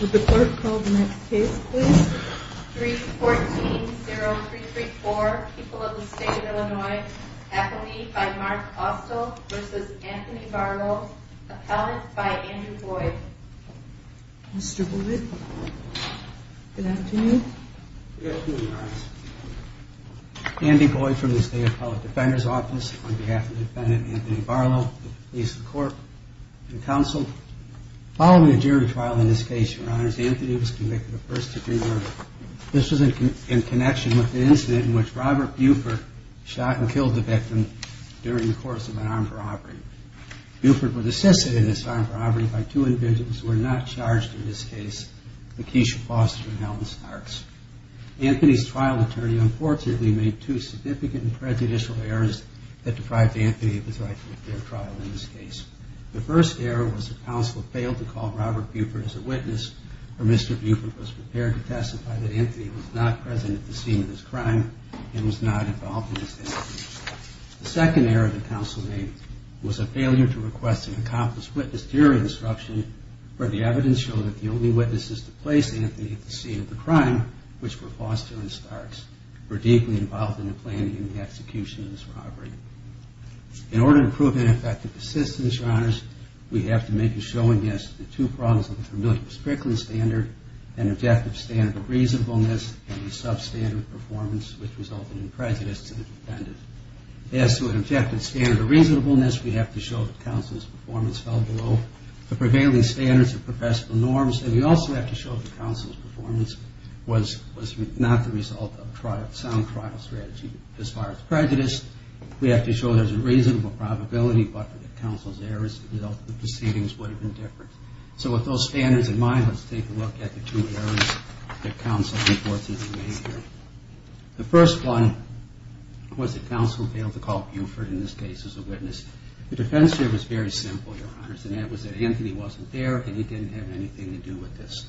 Would the clerk call the next case please? 3-14-0334 People of the State of Illinois. Appellee by Mark Austell v. Anthony Barlow. Appellant by Andrew Boyd. Mr. Boyd. Good afternoon. Good afternoon, Your Honor. Andy Boyd from the State Appellate Defender's Office on behalf of the defendant, Anthony Barlow, the police, the court, and counsel. Following a jury trial in this case, Your Honor, Anthony was convicted of first degree murder. This was in connection with the incident in which Robert Buford shot and killed the victim during the course of an armed robbery. Buford was assisted in this armed robbery by two individuals who were not charged in this case, Lakeisha Foster and Helen Starks. Anthony's trial attorney unfortunately made two significant and prejudicial errors that deprived Anthony of his right to a fair trial in this case. The first error was that counsel failed to call Robert Buford as a witness or Mr. Buford was prepared to testify that Anthony was not present at the scene of this crime and was not involved in this case. The second error that counsel made was a failure to request an accomplished witness during the instruction where the evidence showed that the only witnesses to place Anthony at the scene of the crime, which were Foster and Starks, were deeply involved in the planning and the execution of this robbery. In order to prove ineffective assistance, Your Honors, we have to make a showing as to the two problems of the familiar Strickland standard, an objective standard of reasonableness, and a substandard performance which resulted in prejudice to the defendant. As to an objective standard of reasonableness, we have to show that counsel's performance fell below the prevailing standards of professional norms, and we also have to show that counsel's performance was not the result of a sound trial strategy. As far as prejudice, we have to show there's a reasonable probability, but that counsel's errors as a result of the proceedings would have been different. So with those standards in mind, let's take a look at the two errors that counsel reports in his behavior. The first one was that counsel failed to call Buford in this case as a witness. The defense here was very simple, Your Honors, and that was that Anthony wasn't there and he didn't have anything to do with this.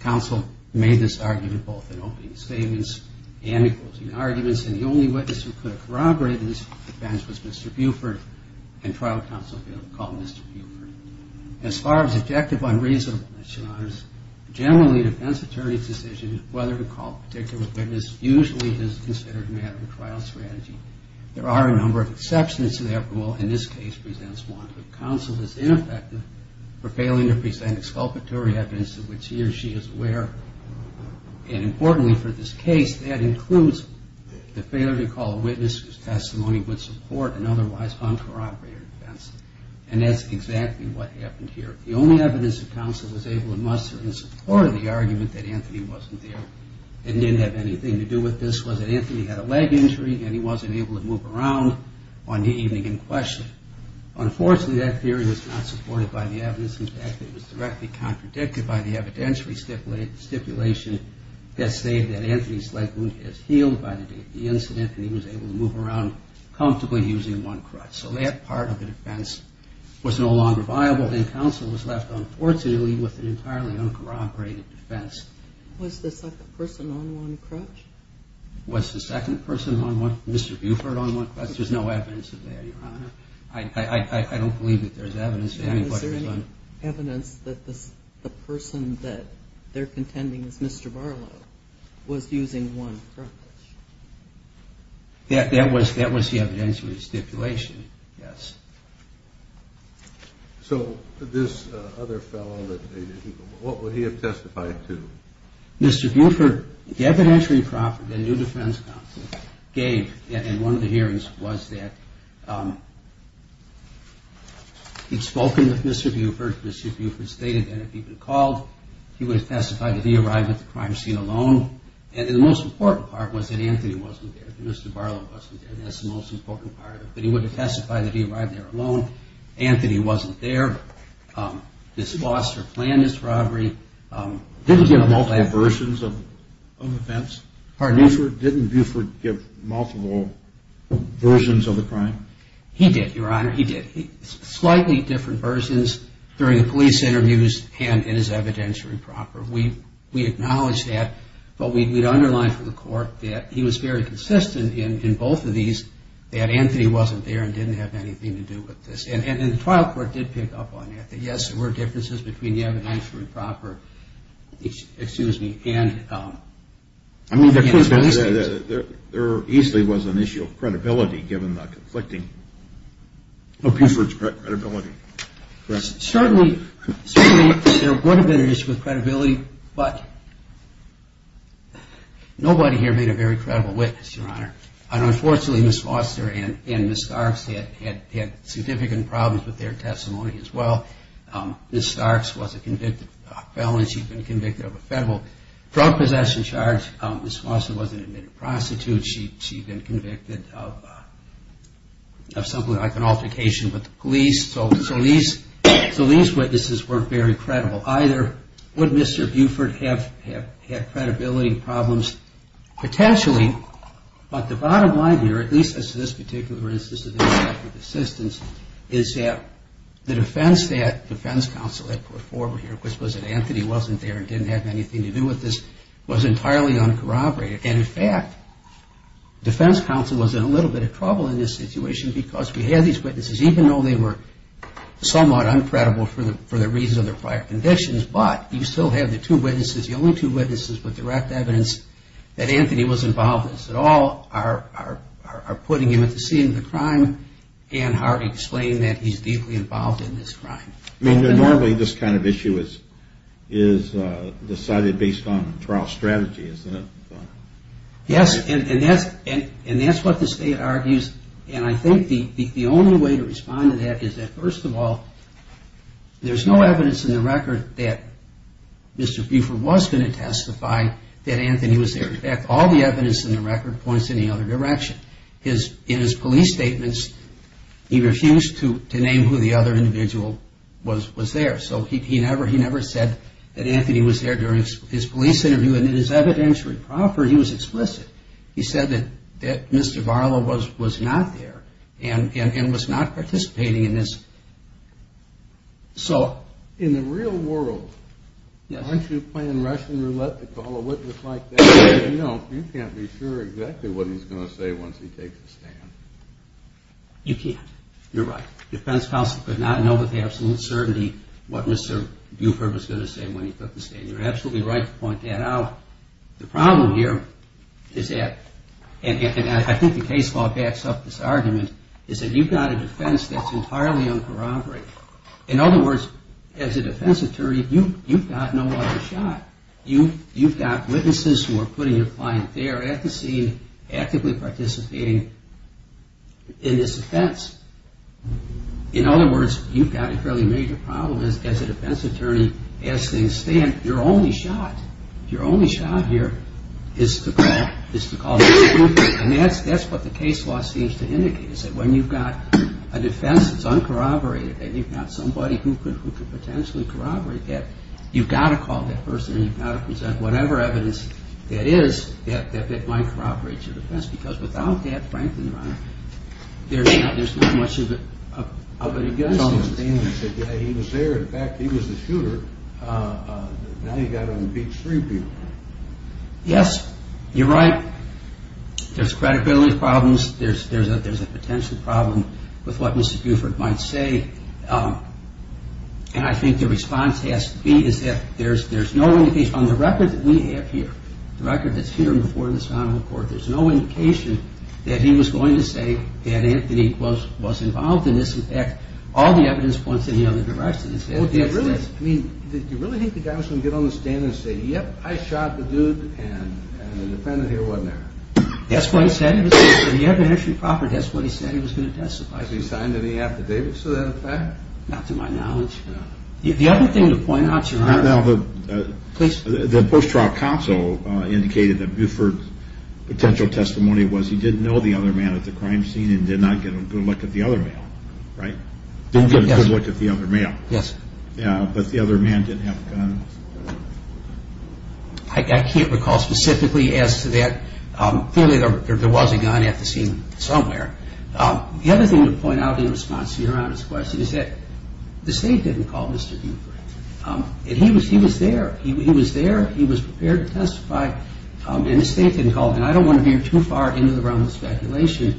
Counsel made this argument both in opening statements and in closing arguments, and the only witness who could have corroborated this defense was Mr. Buford, and trial counsel failed to call Mr. Buford. As far as objective unreasonableness, Your Honors, generally a defense attorney's decision as to whether to call a particular witness usually is considered a matter of trial strategy. There are a number of exceptions to that rule, and this case presents one. Counsel is ineffective for failing to present exculpatory evidence of which he or she is aware, and importantly for this case, that includes the failure to call a witness whose testimony would support an otherwise uncorroborated defense. And that's exactly what happened here. The only evidence that counsel was able to muster in support of the argument that Anthony wasn't there and didn't have anything to do with this was that Anthony had a leg injury and he wasn't able to move around on the evening in question. Unfortunately, that theory was not supported by the evidence. In fact, it was directly contradicted by the evidentiary stipulation that stated that Anthony's leg wound has healed by the date of the incident and he was able to move around comfortably using one crutch. So that part of the defense was no longer viable, and counsel was left, unfortunately, with an entirely uncorroborated defense. Was the second person on one crutch? Was the second person, Mr. Buford, on one crutch? There's no evidence of that, Your Honor. I don't believe that there's evidence. Is there any evidence that the person that they're contending is Mr. Barlow was using one crutch? That was the evidentiary stipulation, yes. So this other fellow, what would he have testified to? Mr. Buford, the evidentiary profit that a new defense counsel gave in one of the hearings was that he'd spoken with Mr. Buford, Mr. Buford stated that if he'd been called, he would have testified that he arrived at the crime scene alone. And the most important part was that Anthony wasn't there, that Mr. Barlow wasn't there. That's the most important part, that he would have testified that he arrived there alone. Anthony wasn't there. This foster planned this robbery. Didn't he give multiple versions of events? Pardon? Didn't Buford give multiple versions of the crime? He did, Your Honor, he did. Slightly different versions during the police interviews and in his evidentiary proper. We acknowledge that, but we'd underline for the court that he was very consistent in both of these, that Anthony wasn't there and didn't have anything to do with this. And the trial court did pick up on that, that yes, there were differences between the evidentiary proper, excuse me, and the police case. There easily was an issue of credibility given the conflicting, of Buford's credibility. Certainly there would have been an issue of credibility, but nobody here made a very credible witness, Your Honor. Unfortunately, Ms. Foster and Ms. Starks had significant problems with their testimony as well. Ms. Starks was a convicted felon. She'd been convicted of a federal drug possession charge. Ms. Foster was an admitted prostitute. She'd been convicted of something like an altercation with the police. So these witnesses weren't very credible either. Would Mr. Buford have credibility problems? Potentially, but the bottom line here, at least as to this particular instance of his lack of assistance, is that the defense that defense counsel had put forward here, which was that Anthony wasn't there and didn't have anything to do with this, was entirely uncorroborated. And in fact, defense counsel was in a little bit of trouble in this situation because we had these witnesses, even though they were somewhat uncredible for the reasons of their prior convictions, but you still have the two witnesses, the only two witnesses with direct evidence that Anthony was involved in this at all, are putting him at the scene of the crime and are explaining that he's deeply involved in this crime. I mean, normally this kind of issue is decided based on trial strategy, isn't it? Yes, and that's what the state argues. And I think the only way to respond to that is that, first of all, there's no evidence in the record that Mr. Buford was going to testify that Anthony was there. In fact, all the evidence in the record points in the other direction. In his police statements, he refused to name who the other individual was there. So he never said that Anthony was there during his police interview. And in his evidentiary proffer, he was explicit. He said that Mr. Barlow was not there and was not participating in this. So in the real world, aren't you playing Russian roulette to call a witness like that? No, you can't be sure exactly what he's going to say once he takes a stand. You can't. You're right. Defense counsel could not know with absolute certainty what Mr. Buford was going to say when he took the stand. You're absolutely right to point that out. The problem here is that, and I think the case law backs up this argument, is that you've got a defense that's entirely uncorroborated. In other words, as a defense attorney, you've got no other shot. You've got witnesses who are putting their client there at the scene, actively participating in this offense. In other words, you've got a fairly major problem as a defense attorney as things stand. Your only shot, your only shot here is to call Mr. Buford. And that's what the case law seems to indicate, is that when you've got a defense that's uncorroborated and you've got somebody who could potentially corroborate that, you've got to call that person and you've got to present whatever evidence that is that might corroborate your defense. Because without that, frankly, your honor, there's not much of it against us. He was there. In fact, he was the shooter. Now you've got him to beat three people. Yes, you're right. There's credibility problems. There's a potential problem with what Mr. Buford might say. And I think the response has to be that there's no indication. On the record that we have here, the record that's here before this Honorable Court, there's no indication that he was going to say that Anthony was involved in this. In fact, all the evidence points in the other direction. Did you really think the guy was going to get on the stand and say, yep, I shot the dude and the defendant here wasn't there? That's what he said. He was going to testify. Did he sign any affidavits to that effect? Not to my knowledge. The other thing to point out, your honor, the post-trial counsel indicated that Buford's potential testimony was he didn't know the other man at the crime scene and did not get a good look at the other male. Didn't get a good look at the other male. But the other man didn't have a gun. I can't recall specifically as to that. Clearly there was a gun at the scene somewhere. The other thing to point out in response to your Honor's question is that the State didn't call Mr. Buford. And he was there. He was there. He was prepared to testify. And the State didn't call him. And I don't want to veer too far into the realm of speculation,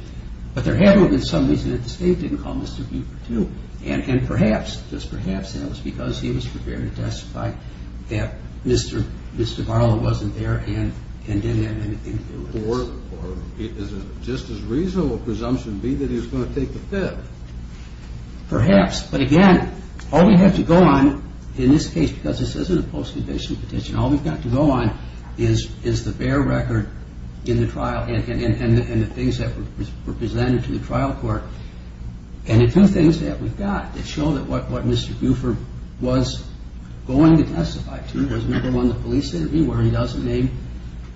but there had to have been some reason that the State didn't call Mr. Buford too. And perhaps, just perhaps, that was because he was prepared to testify that Mr. Barlow wasn't there and didn't have anything to do with it. Or is it just as reasonable presumption B that he was going to take the fifth? Perhaps. But, again, all we have to go on in this case, because this isn't a post-conviction petition, all we've got to go on is the bare record in the trial and the things that were presented to the trial court and the two things that we've got that show that what Mr. Buford was going to testify to was, number one, the police interview where he doesn't name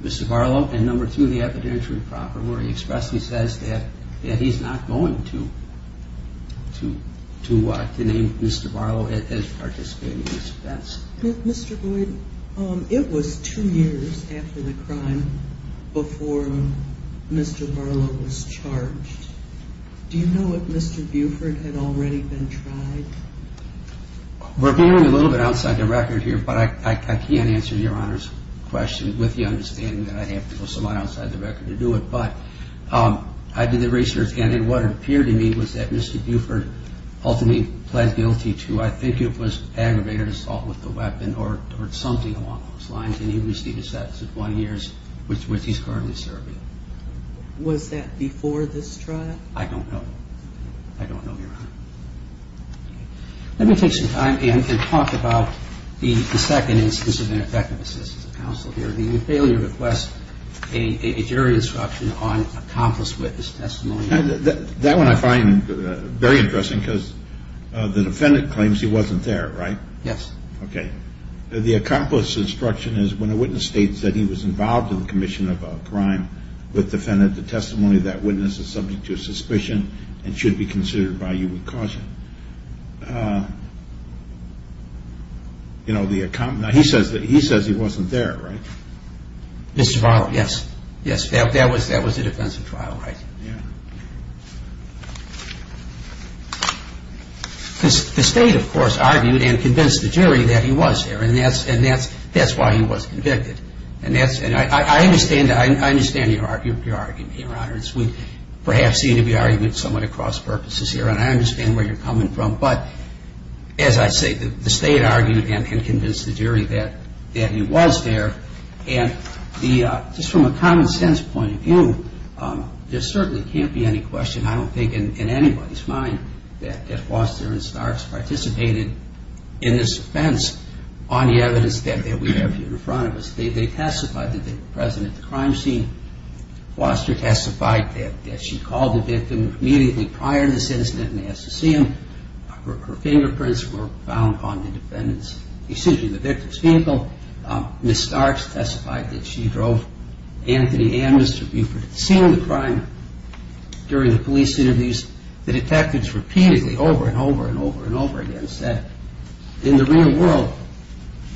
Mr. Barlow, and, number two, the evidentiary proper where he expressly says that he's not going to name Mr. Barlow at his participating defense. Mr. Boyd, it was two years after the crime before Mr. Barlow was charged. Do you know if Mr. Buford had already been tried? We're going a little bit outside the record here, but I can't answer Your Honor's question with the understanding that I'd have to go somewhat outside the record to do it. But I did the research, and what appeared to me was that Mr. Buford ultimately pled guilty to, I think it was aggravated assault with a weapon or something along those lines, and he received a sentence of one year, which he's currently serving. Was that before this trial? I don't know. I don't know, Your Honor. Let me take some time and talk about the second instance of ineffective assistance of counsel here, the failure to request a jury instruction on accomplice witness testimony. That one I find very interesting because the defendant claims he wasn't there, right? Yes. Okay. The accomplice instruction is when a witness states that he was involved in the commission of a crime with the defendant, the testimony of that witness is subject to suspicion and should be considered by you with caution. Now, he says he wasn't there, right? Mr. Varno, yes. Yes, that was the defense of trial, right? Yeah. The state, of course, argued and convinced the jury that he was there, and that's why he was convicted. I understand your argument, Your Honor. We perhaps seem to be arguing somewhat of cross purposes here, and I understand where you're coming from, but as I say, the state argued and convinced the jury that he was there, and just from a common sense point of view, there certainly can't be any question, I don't think in anybody's mind, that Foster and Starks participated in this offense on the evidence that we have here in front of us. They testified that they were present at the crime scene. Foster testified that she called the victim immediately prior to the incident and asked to see him. Her fingerprints were found on the victim's vehicle. Ms. Starks testified that she drove Anthony and Mr. Buford to the scene of the crime. During the police interviews, the detectives repeatedly, over and over and over and over again, said, in the real world,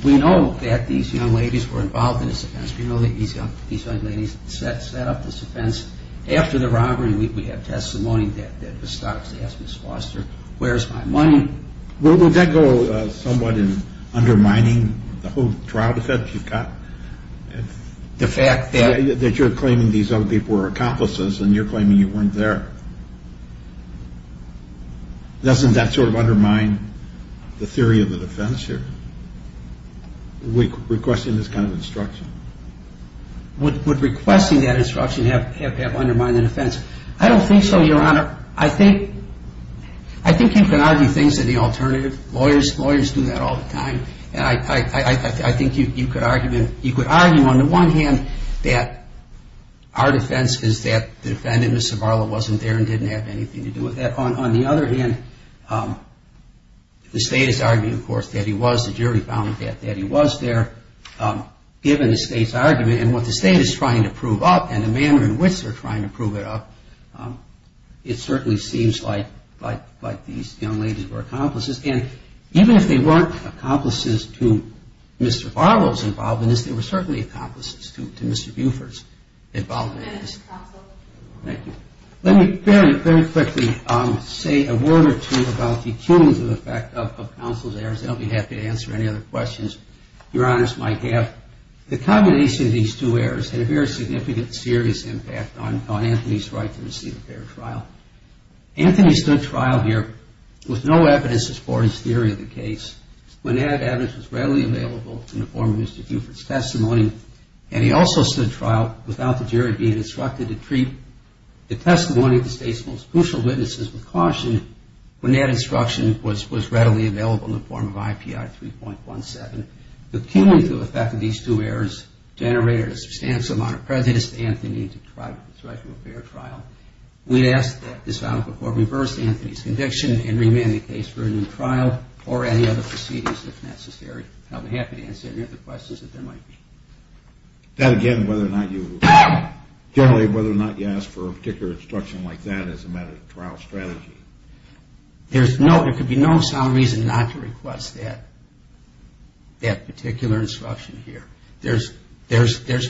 we know that these young ladies were involved in this offense. We know that these young ladies set up this offense. After the robbery, we have testimony that Ms. Starks asked Ms. Foster, where's my money? Would that go somewhat in undermining the whole trial defense you've got? The fact that you're claiming these young people were accomplices and you're claiming you weren't there. Doesn't that sort of undermine the theory of the defense here, requesting this kind of instruction? Would requesting that instruction have undermined the defense? I don't think so, Your Honor. I think you can argue things in the alternative. Lawyers do that all the time. I think you could argue on the one hand that our defense is that the defendant, Ms. Zavala, wasn't there and didn't have anything to do with that. On the other hand, the state is arguing, of course, that he was. The jury found that he was there. Given the state's argument and what the state is trying to prove up and the manner in which they're trying to prove it up, it certainly seems like these young ladies were accomplices. And even if they weren't accomplices to Mr. Barlow's involvement in this, they were certainly accomplices to Mr. Buford's involvement in this. Thank you. Let me very quickly say a word or two about the cumulative effect of counsel's errors. I'll be happy to answer any other questions Your Honor's might have. The combination of these two errors had a very significant, serious impact on Anthony's right to receive a fair trial. Anthony stood trial here with no evidence as far as theory of the case. When that evidence was readily available in the form of Mr. Buford's testimony, and he also stood trial without the jury being instructed to treat the testimony of the state's most crucial witnesses with caution when that instruction was readily available in the form of IPI 3.17. The cumulative effect of these two errors generated a substantial amount of prejudice to Anthony and to his right to a fair trial. We ask that this verdict of Buford reverse Anthony's conviction and remand the case for a new trial or any other proceedings if necessary. I'll be happy to answer any other questions that there might be. That again, whether or not you ask for a particular instruction like that as a matter of trial strategy. There could be no sound reason not to request that particular instruction here. There's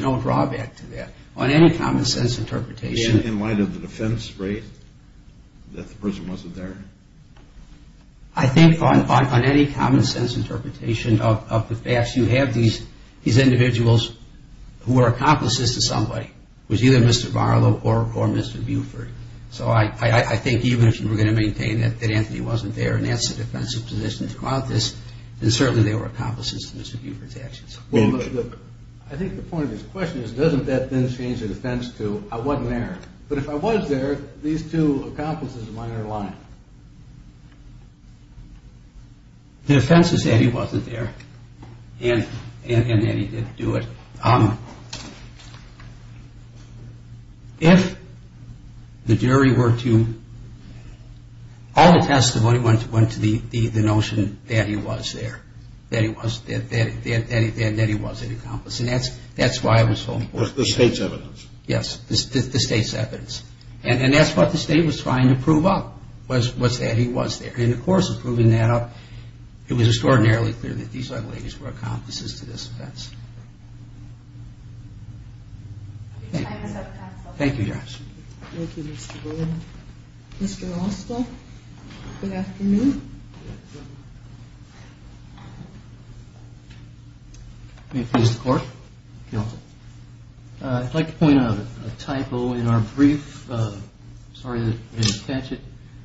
no drawback to that. In light of the defense, right? That the person wasn't there? I think on any common sense interpretation of the facts, you have these individuals who are accomplices to somebody. It was either Mr. Barlow or Mr. Buford. So I think even if you were going to maintain that Anthony wasn't there and that's a defensive position throughout this, then certainly they were accomplices to Mr. Buford's actions. I think the point of this question is doesn't that then change the defense to I wasn't there? But if I was there, these two accomplices of mine are lying. The defense is that he wasn't there and that he didn't do it. If the jury were to, all the testimony went to the notion that he was there, that he was an accomplice. And that's why it was so important. The state's evidence. Yes, the state's evidence. And that's what the state was trying to prove up was that he was there. And of course, in proving that up, it was extraordinarily clear that these young ladies were accomplices to this offense. Thank you, guys. Thank you, Mr. Barlow. Mr. Oswald, good afternoon. May it please the court. I'd like to point out a typo in our brief. Sorry that I didn't catch it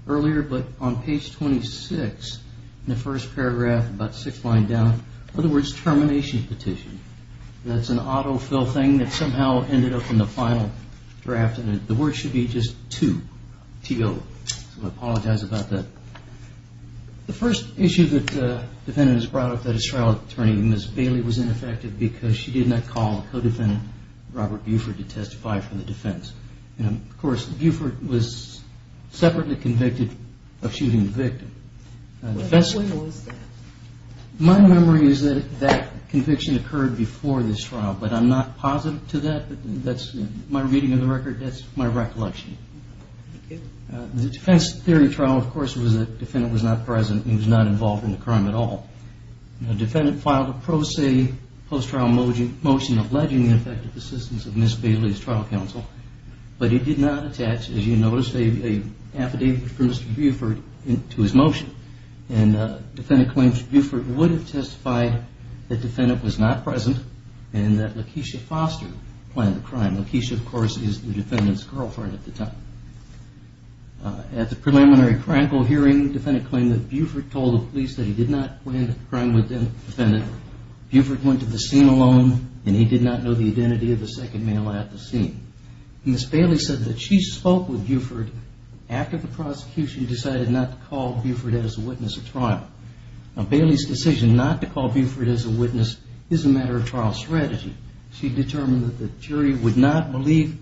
earlier, but on page 26 in the first paragraph, about six lines down, are the words termination petition. That's an autofill thing that somehow ended up in the final draft and the word should be just to, T-O. So I apologize about that. The first issue that the defendant has brought up that his trial attorney, Ms. Bailey, was ineffective because she did not call the co-defendant, Robert Buford, to testify for the defense. Of course, Buford was separately convicted of shooting the victim. When was that? My memory is that that conviction occurred before this trial, but I'm not positive to that. That's my reading of the record. That's my recollection. The defense theory trial, of course, was that the defendant was not present and was not involved in the crime at all. The defendant filed a pro se post-trial motion alleging the ineffective assistance of Ms. Bailey's trial counsel, but he did not attach, as you noticed, an affidavit from Mr. Buford to his motion. The defendant claims that Buford would have testified that the defendant was not present and that Lakeisha Foster planned the crime. Lakeisha, of course, is the defendant's girlfriend at the time. At the preliminary criminal hearing, the defendant claimed that Buford told the police that he did not plan the crime with the defendant. Buford went to the scene alone, and he did not know the identity of the second male at the scene. Ms. Bailey said that she spoke with Buford after the prosecution decided not to call Buford as a witness at trial. Now, Bailey's decision not to call Buford as a witness is a matter of trial strategy. She determined that the jury would not believe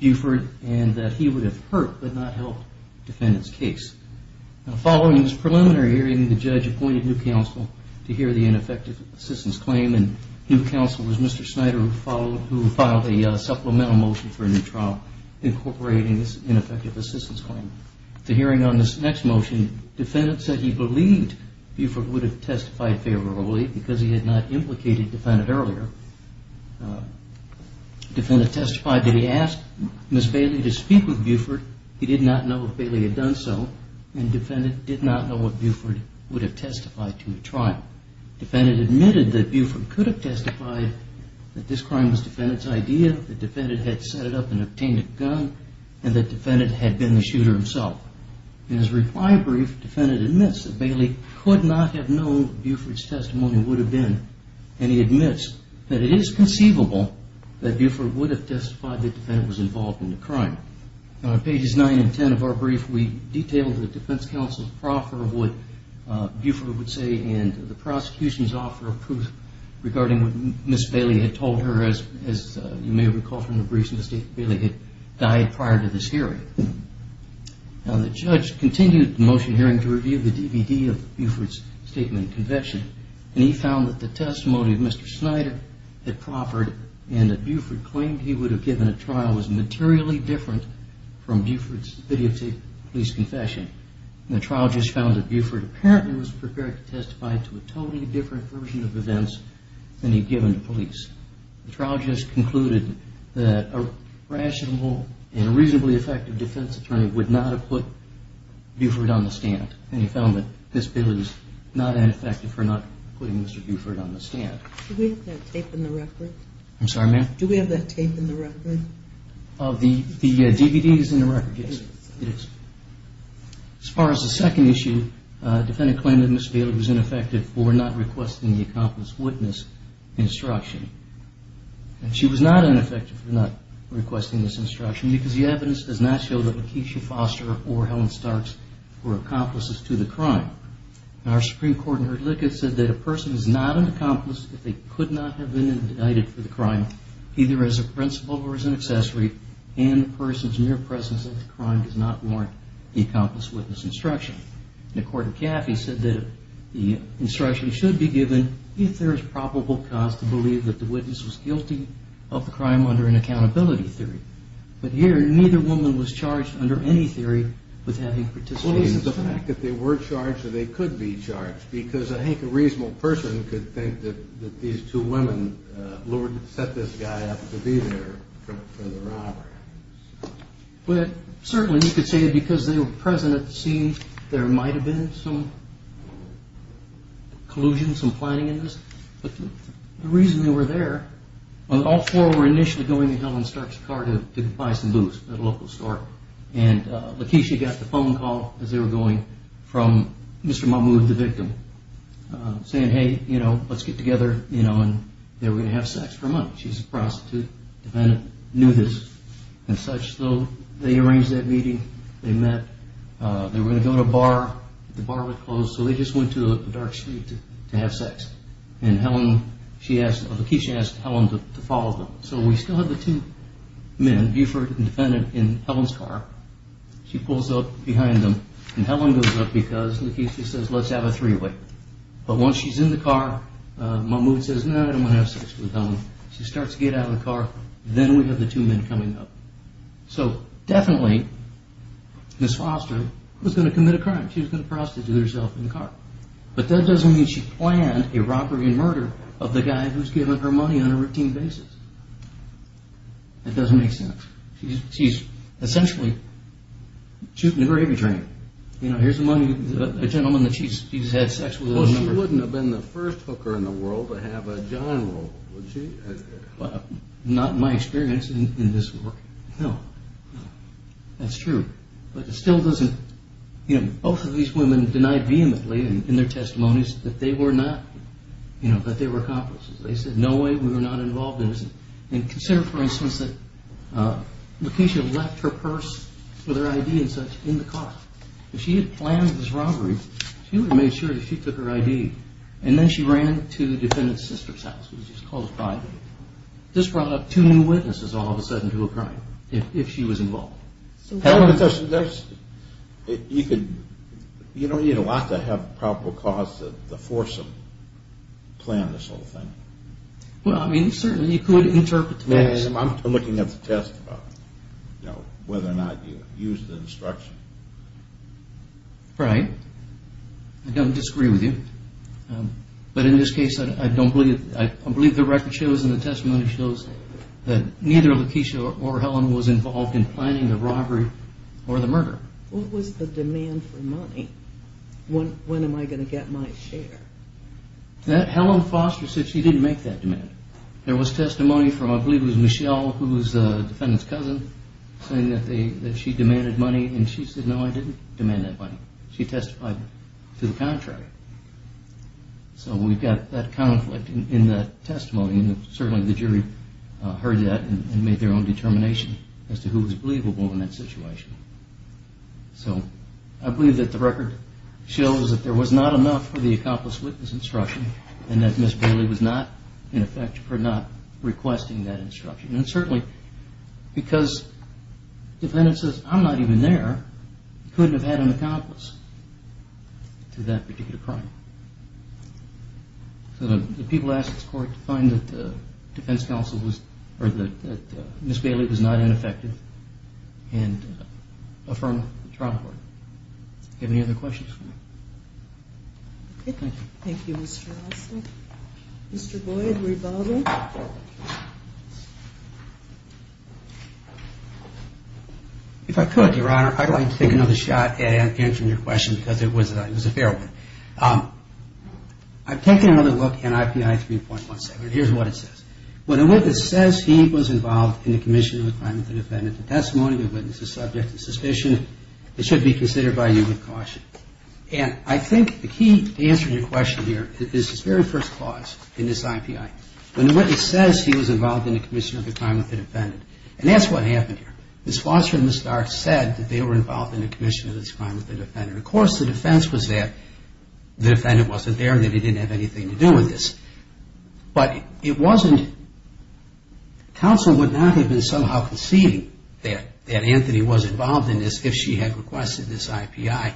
Buford and that he would have hurt but not helped the defendant's case. Now, following this preliminary hearing, the judge appointed new counsel to hear the ineffective assistance claim, and new counsel was Mr. Snyder, who filed a supplemental motion for a new trial incorporating this ineffective assistance claim. At the hearing on this next motion, the defendant said he believed Buford would have testified favorably because he had not implicated the defendant earlier. The defendant testified that he asked Ms. Bailey to speak with Buford. He did not know if Bailey had done so, and the defendant did not know if Buford would have testified to the trial. The defendant admitted that Buford could have testified that this crime was the defendant's idea, that the defendant had set it up and obtained a gun, and that the defendant had been the shooter himself. In his reply brief, the defendant admits that Bailey could not have known that Buford's testimony would have been, and he admits that it is conceivable that Buford would have testified that the defendant was involved in the crime. Now, on pages 9 and 10 of our brief, we detail the defense counsel's proffer of what Buford would say and the prosecution's offer of proof regarding what Ms. Bailey had told her, as you may recall from the brief, Ms. Bailey had died prior to this hearing. Now, the judge continued the motion hearing to review the DVD of Buford's statement and confession, and he found that the testimony of Mr. Snyder had proffered and that Buford claimed he would have given a trial was materially different from Buford's videotaped police confession. The trial just found that Buford apparently was prepared to testify The trial just concluded that a rational and reasonably effective defense attorney would not have put Buford on the stand, and he found that Ms. Bailey was not ineffective for not putting Mr. Buford on the stand. Do we have that tape in the record? I'm sorry, ma'am? Do we have that tape in the record? The DVD is in the record, yes. As far as the second issue, the defendant claimed that Ms. Bailey was ineffective for not requesting the accomplice witness instruction, and she was not ineffective for not requesting this instruction because the evidence does not show that Lakeisha Foster or Helen Starks were accomplices to the crime. Our Supreme Court in her litigate said that a person is not an accomplice if they could not have been indicted for the crime, either as a principal or as an accessory, and the person's mere presence at the crime does not warrant the accomplice witness instruction. The court in Caffey said that the instruction should be given if there is probable cause to believe that the witness was guilty of the crime under an accountability theory. But here, neither woman was charged under any theory with having participated in the crime. Well, is it the fact that they were charged or they could be charged? Because I think a reasonable person could think that these two women set this guy up to be there for the robbery. But certainly you could say that because they were present at the scene, there might have been some collusion, some planning in this. But the reason they were there, all four were initially going to Helen Stark's car to buy some booze at a local store, and Lakeisha got the phone call as they were going from Mr. Mahmoud, the victim, saying, hey, you know, let's get together, you know, and they were going to have sex for a month. She's a prostitute. The defendant knew this and such. So they arranged that meeting. They met. They were going to go to a bar. The bar was closed, so they just went to a dark street to have sex. And Helen, she asked, Lakeisha asked Helen to follow them. So we still have the two men, Buford and the defendant, in Helen's car. She pulls up behind them, and Helen goes up because, Lakeisha says, let's have a three-way. But once she's in the car, Mahmoud says, no, I don't want to have sex with Helen. She starts to get out of the car. Then we have the two men coming up. So definitely Ms. Foster was going to commit a crime. She was going to prostitute herself in the car. But that doesn't mean she planned a robbery and murder of the guy who was giving her money on a routine basis. That doesn't make sense. She's essentially shooting a gravy train. You know, here's a gentleman that she's had sex with. Well, she wouldn't have been the first hooker in the world to have a John role, would she? Not in my experience in this work, no. That's true. But it still doesn't, you know, both of these women denied vehemently in their testimonies that they were not, you know, that they were accomplices. They said, no way, we were not involved in this. And consider, for instance, that Lakeisha left her purse with her ID and such in the car. If she had planned this robbery, she would have made sure that she took her ID. And then she ran to the defendant's sister's house, which is called a private. This brought up two new witnesses all of a sudden to a crime if she was involved. You don't need a lot to have a probable cause to force them to plan this whole thing. Well, I mean, certainly you could interpret the facts. I'm looking at the testimony, you know, whether or not you used the instruction. Right. I don't disagree with you. But in this case, I believe the record shows and the testimony shows that neither Lakeisha or Helen was involved in planning the robbery or the murder. What was the demand for money? When am I going to get my share? Helen Foster said she didn't make that demand. There was testimony from, I believe it was Michelle, who was the defendant's cousin, saying that she demanded money, and she said, no, I didn't demand that money. She testified to the contractor. So we've got that conflict in the testimony, and certainly the jury heard that and made their own determination as to who was believable in that situation. So I believe that the record shows that there was not enough for the accomplice witness instruction and that Ms. Bailey was not ineffective for not requesting that instruction. And certainly because the defendant says, I'm not even there, he couldn't have had an accomplice to that particular crime. So the people asked the court to find that the defense counsel was, or that Ms. Bailey was not ineffective and affirm the trial court. Do you have any other questions for me? Okay. Thank you, Mr. Olson. Mr. Boyd, were you bothering? If I could, Your Honor, I'd like to take another shot at answering your question because it was a fair one. I've taken another look in IPI 3.17. Here's what it says. When a witness says he was involved in the commission of a crime with the defendant's testimony, the witness is subject to suspicion, it should be considered by you with caution. And I think the key to answering your question here is this very first clause in this IPI. When the witness says he was involved in the commission of a crime with the defendant, and that's what happened here. Ms. Foster and Ms. Stark said that they were involved in the commission of this crime with the defendant. Of course, the defense was that the defendant wasn't there and that he didn't have anything to do with this. But it wasn't, counsel would not have been somehow conceding that Anthony was involved in this if she had requested this IPI.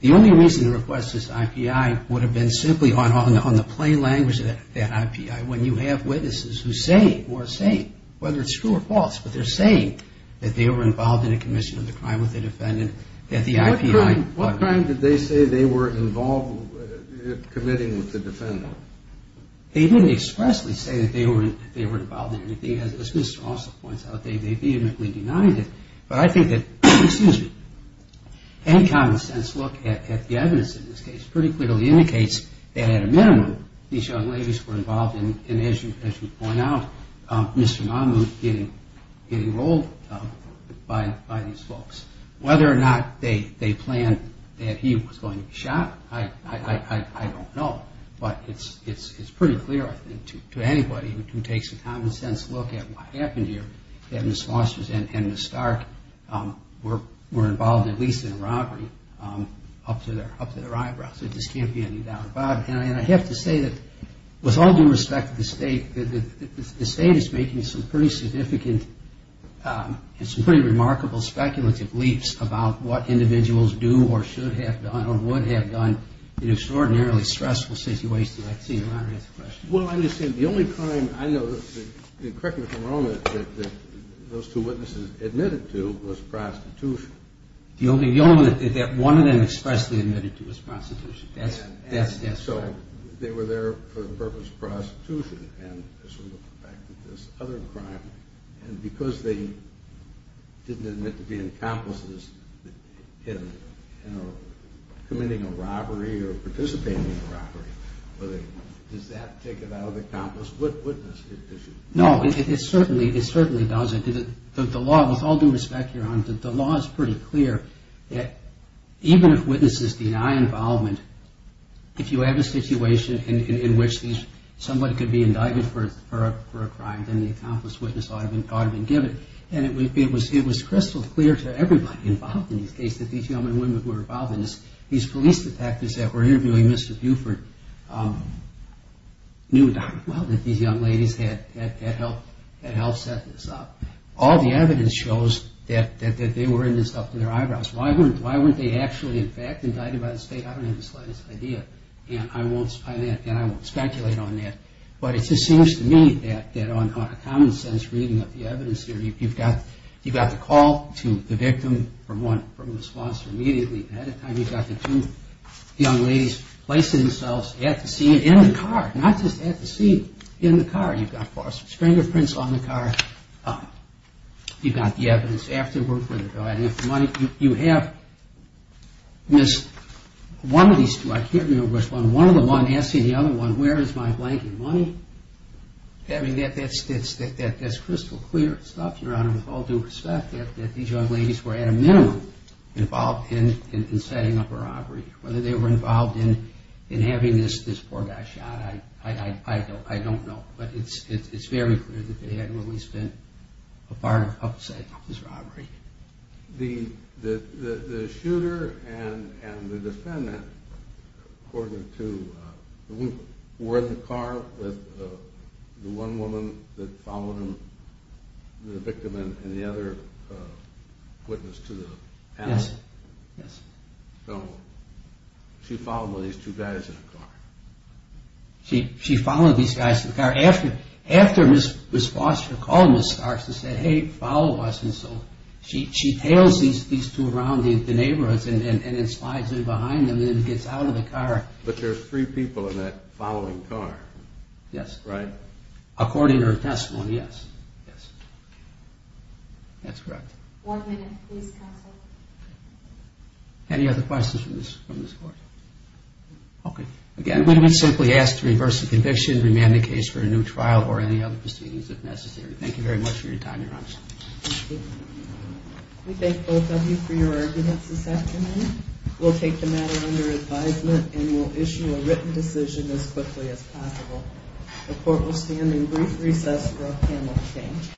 The only reason to request this IPI would have been simply on the plain language of that IPI. When you have witnesses who say, or are saying, whether it's true or false, but they're saying that they were involved in a commission of the crime with the defendant, that the IPI... What crime did they say they were involved in committing with the defendant? They didn't expressly say that they were involved in anything. As Mr. Osler points out, they vehemently denied it. But I think that any common sense look at the evidence in this case pretty clearly indicates that at a minimum, these young ladies were involved in, as you point out, Mr. Mahmoud getting rolled by these folks. Whether or not they planned that he was going to be shot, I don't know. But it's pretty clear, I think, to anybody who takes a common sense look at what happened here that Ms. Foster and Ms. Stark were involved at least in a robbery up to their eyebrows. There just can't be any doubt about it. And I have to say that with all due respect to the State, the State is making some pretty significant and some pretty remarkable speculative leaps about what individuals do or should have done or would have done in an extraordinarily stressful situation. I'd like to see you answer the question. Well, I understand. The only crime, I know, correct me if I'm wrong, that those two witnesses admitted to was prostitution. The only one that one of them expressly admitted to was prostitution. That's right. So they were there for the purpose of prostitution. And as we look back at this other crime, and because they didn't admit to being accomplices in committing a robbery or participating in a robbery, does that take it out of the accomplice witness condition? No, it certainly does. The law, with all due respect, Your Honor, the law is pretty clear that even if witnesses deny involvement, if you have a situation in which somebody could be indicted for a crime, then the accomplice witness ought to be given. And it was crystal clear to everybody involved in this case that these young women who were involved in this, these police detectives that were interviewing Mr. Buford, knew darn well that these young ladies had helped set this up. All the evidence shows that they were in this up to their eyebrows. Why weren't they actually, in fact, indicted by the state? I don't have the slightest idea, and I won't speculate on that. But it just seems to me that on a common sense reading of the evidence here, you've got the call to the victim from the sponsor immediately. And at the time, you've got the two young ladies placing themselves at the scene, in the car, not just at the scene, in the car. You've got forceps, fingerprints on the car. You've got the evidence afterward for the money. You have one of these two, I can't remember which one, one of the one asking the other one, where is my blanket money? I mean, that's crystal clear stuff, Your Honor, with all due respect, that these young ladies were at a minimum involved in setting up a robbery. Whether they were involved in having this poor guy shot, I don't know. But it's very clear that they had really spent a part of setting up this robbery. The shooter and the defendant were in the car with the one woman that followed the victim and the other witness to the alley? Yes. So she followed these two guys in the car? She followed these guys in the car. After Ms. Foster called Ms. Starks and said, hey, follow us. And so she tails these two around the neighborhoods and then slides in behind them and then gets out of the car. But there are three people in that following car? Yes. Right. According to her testimony, yes. Yes. That's correct. One minute, please, counsel. Any other questions from this court? Okay. Again, we would simply ask to reverse the conviction, remand the case for a new trial or any other proceedings if necessary. Thank you very much for your time, Your Honor. Thank you. We thank both of you for your arguments this afternoon. We'll take the matter under advisement and we'll issue a written decision as quickly as possible. The court will stand in brief recess for a panel exchange.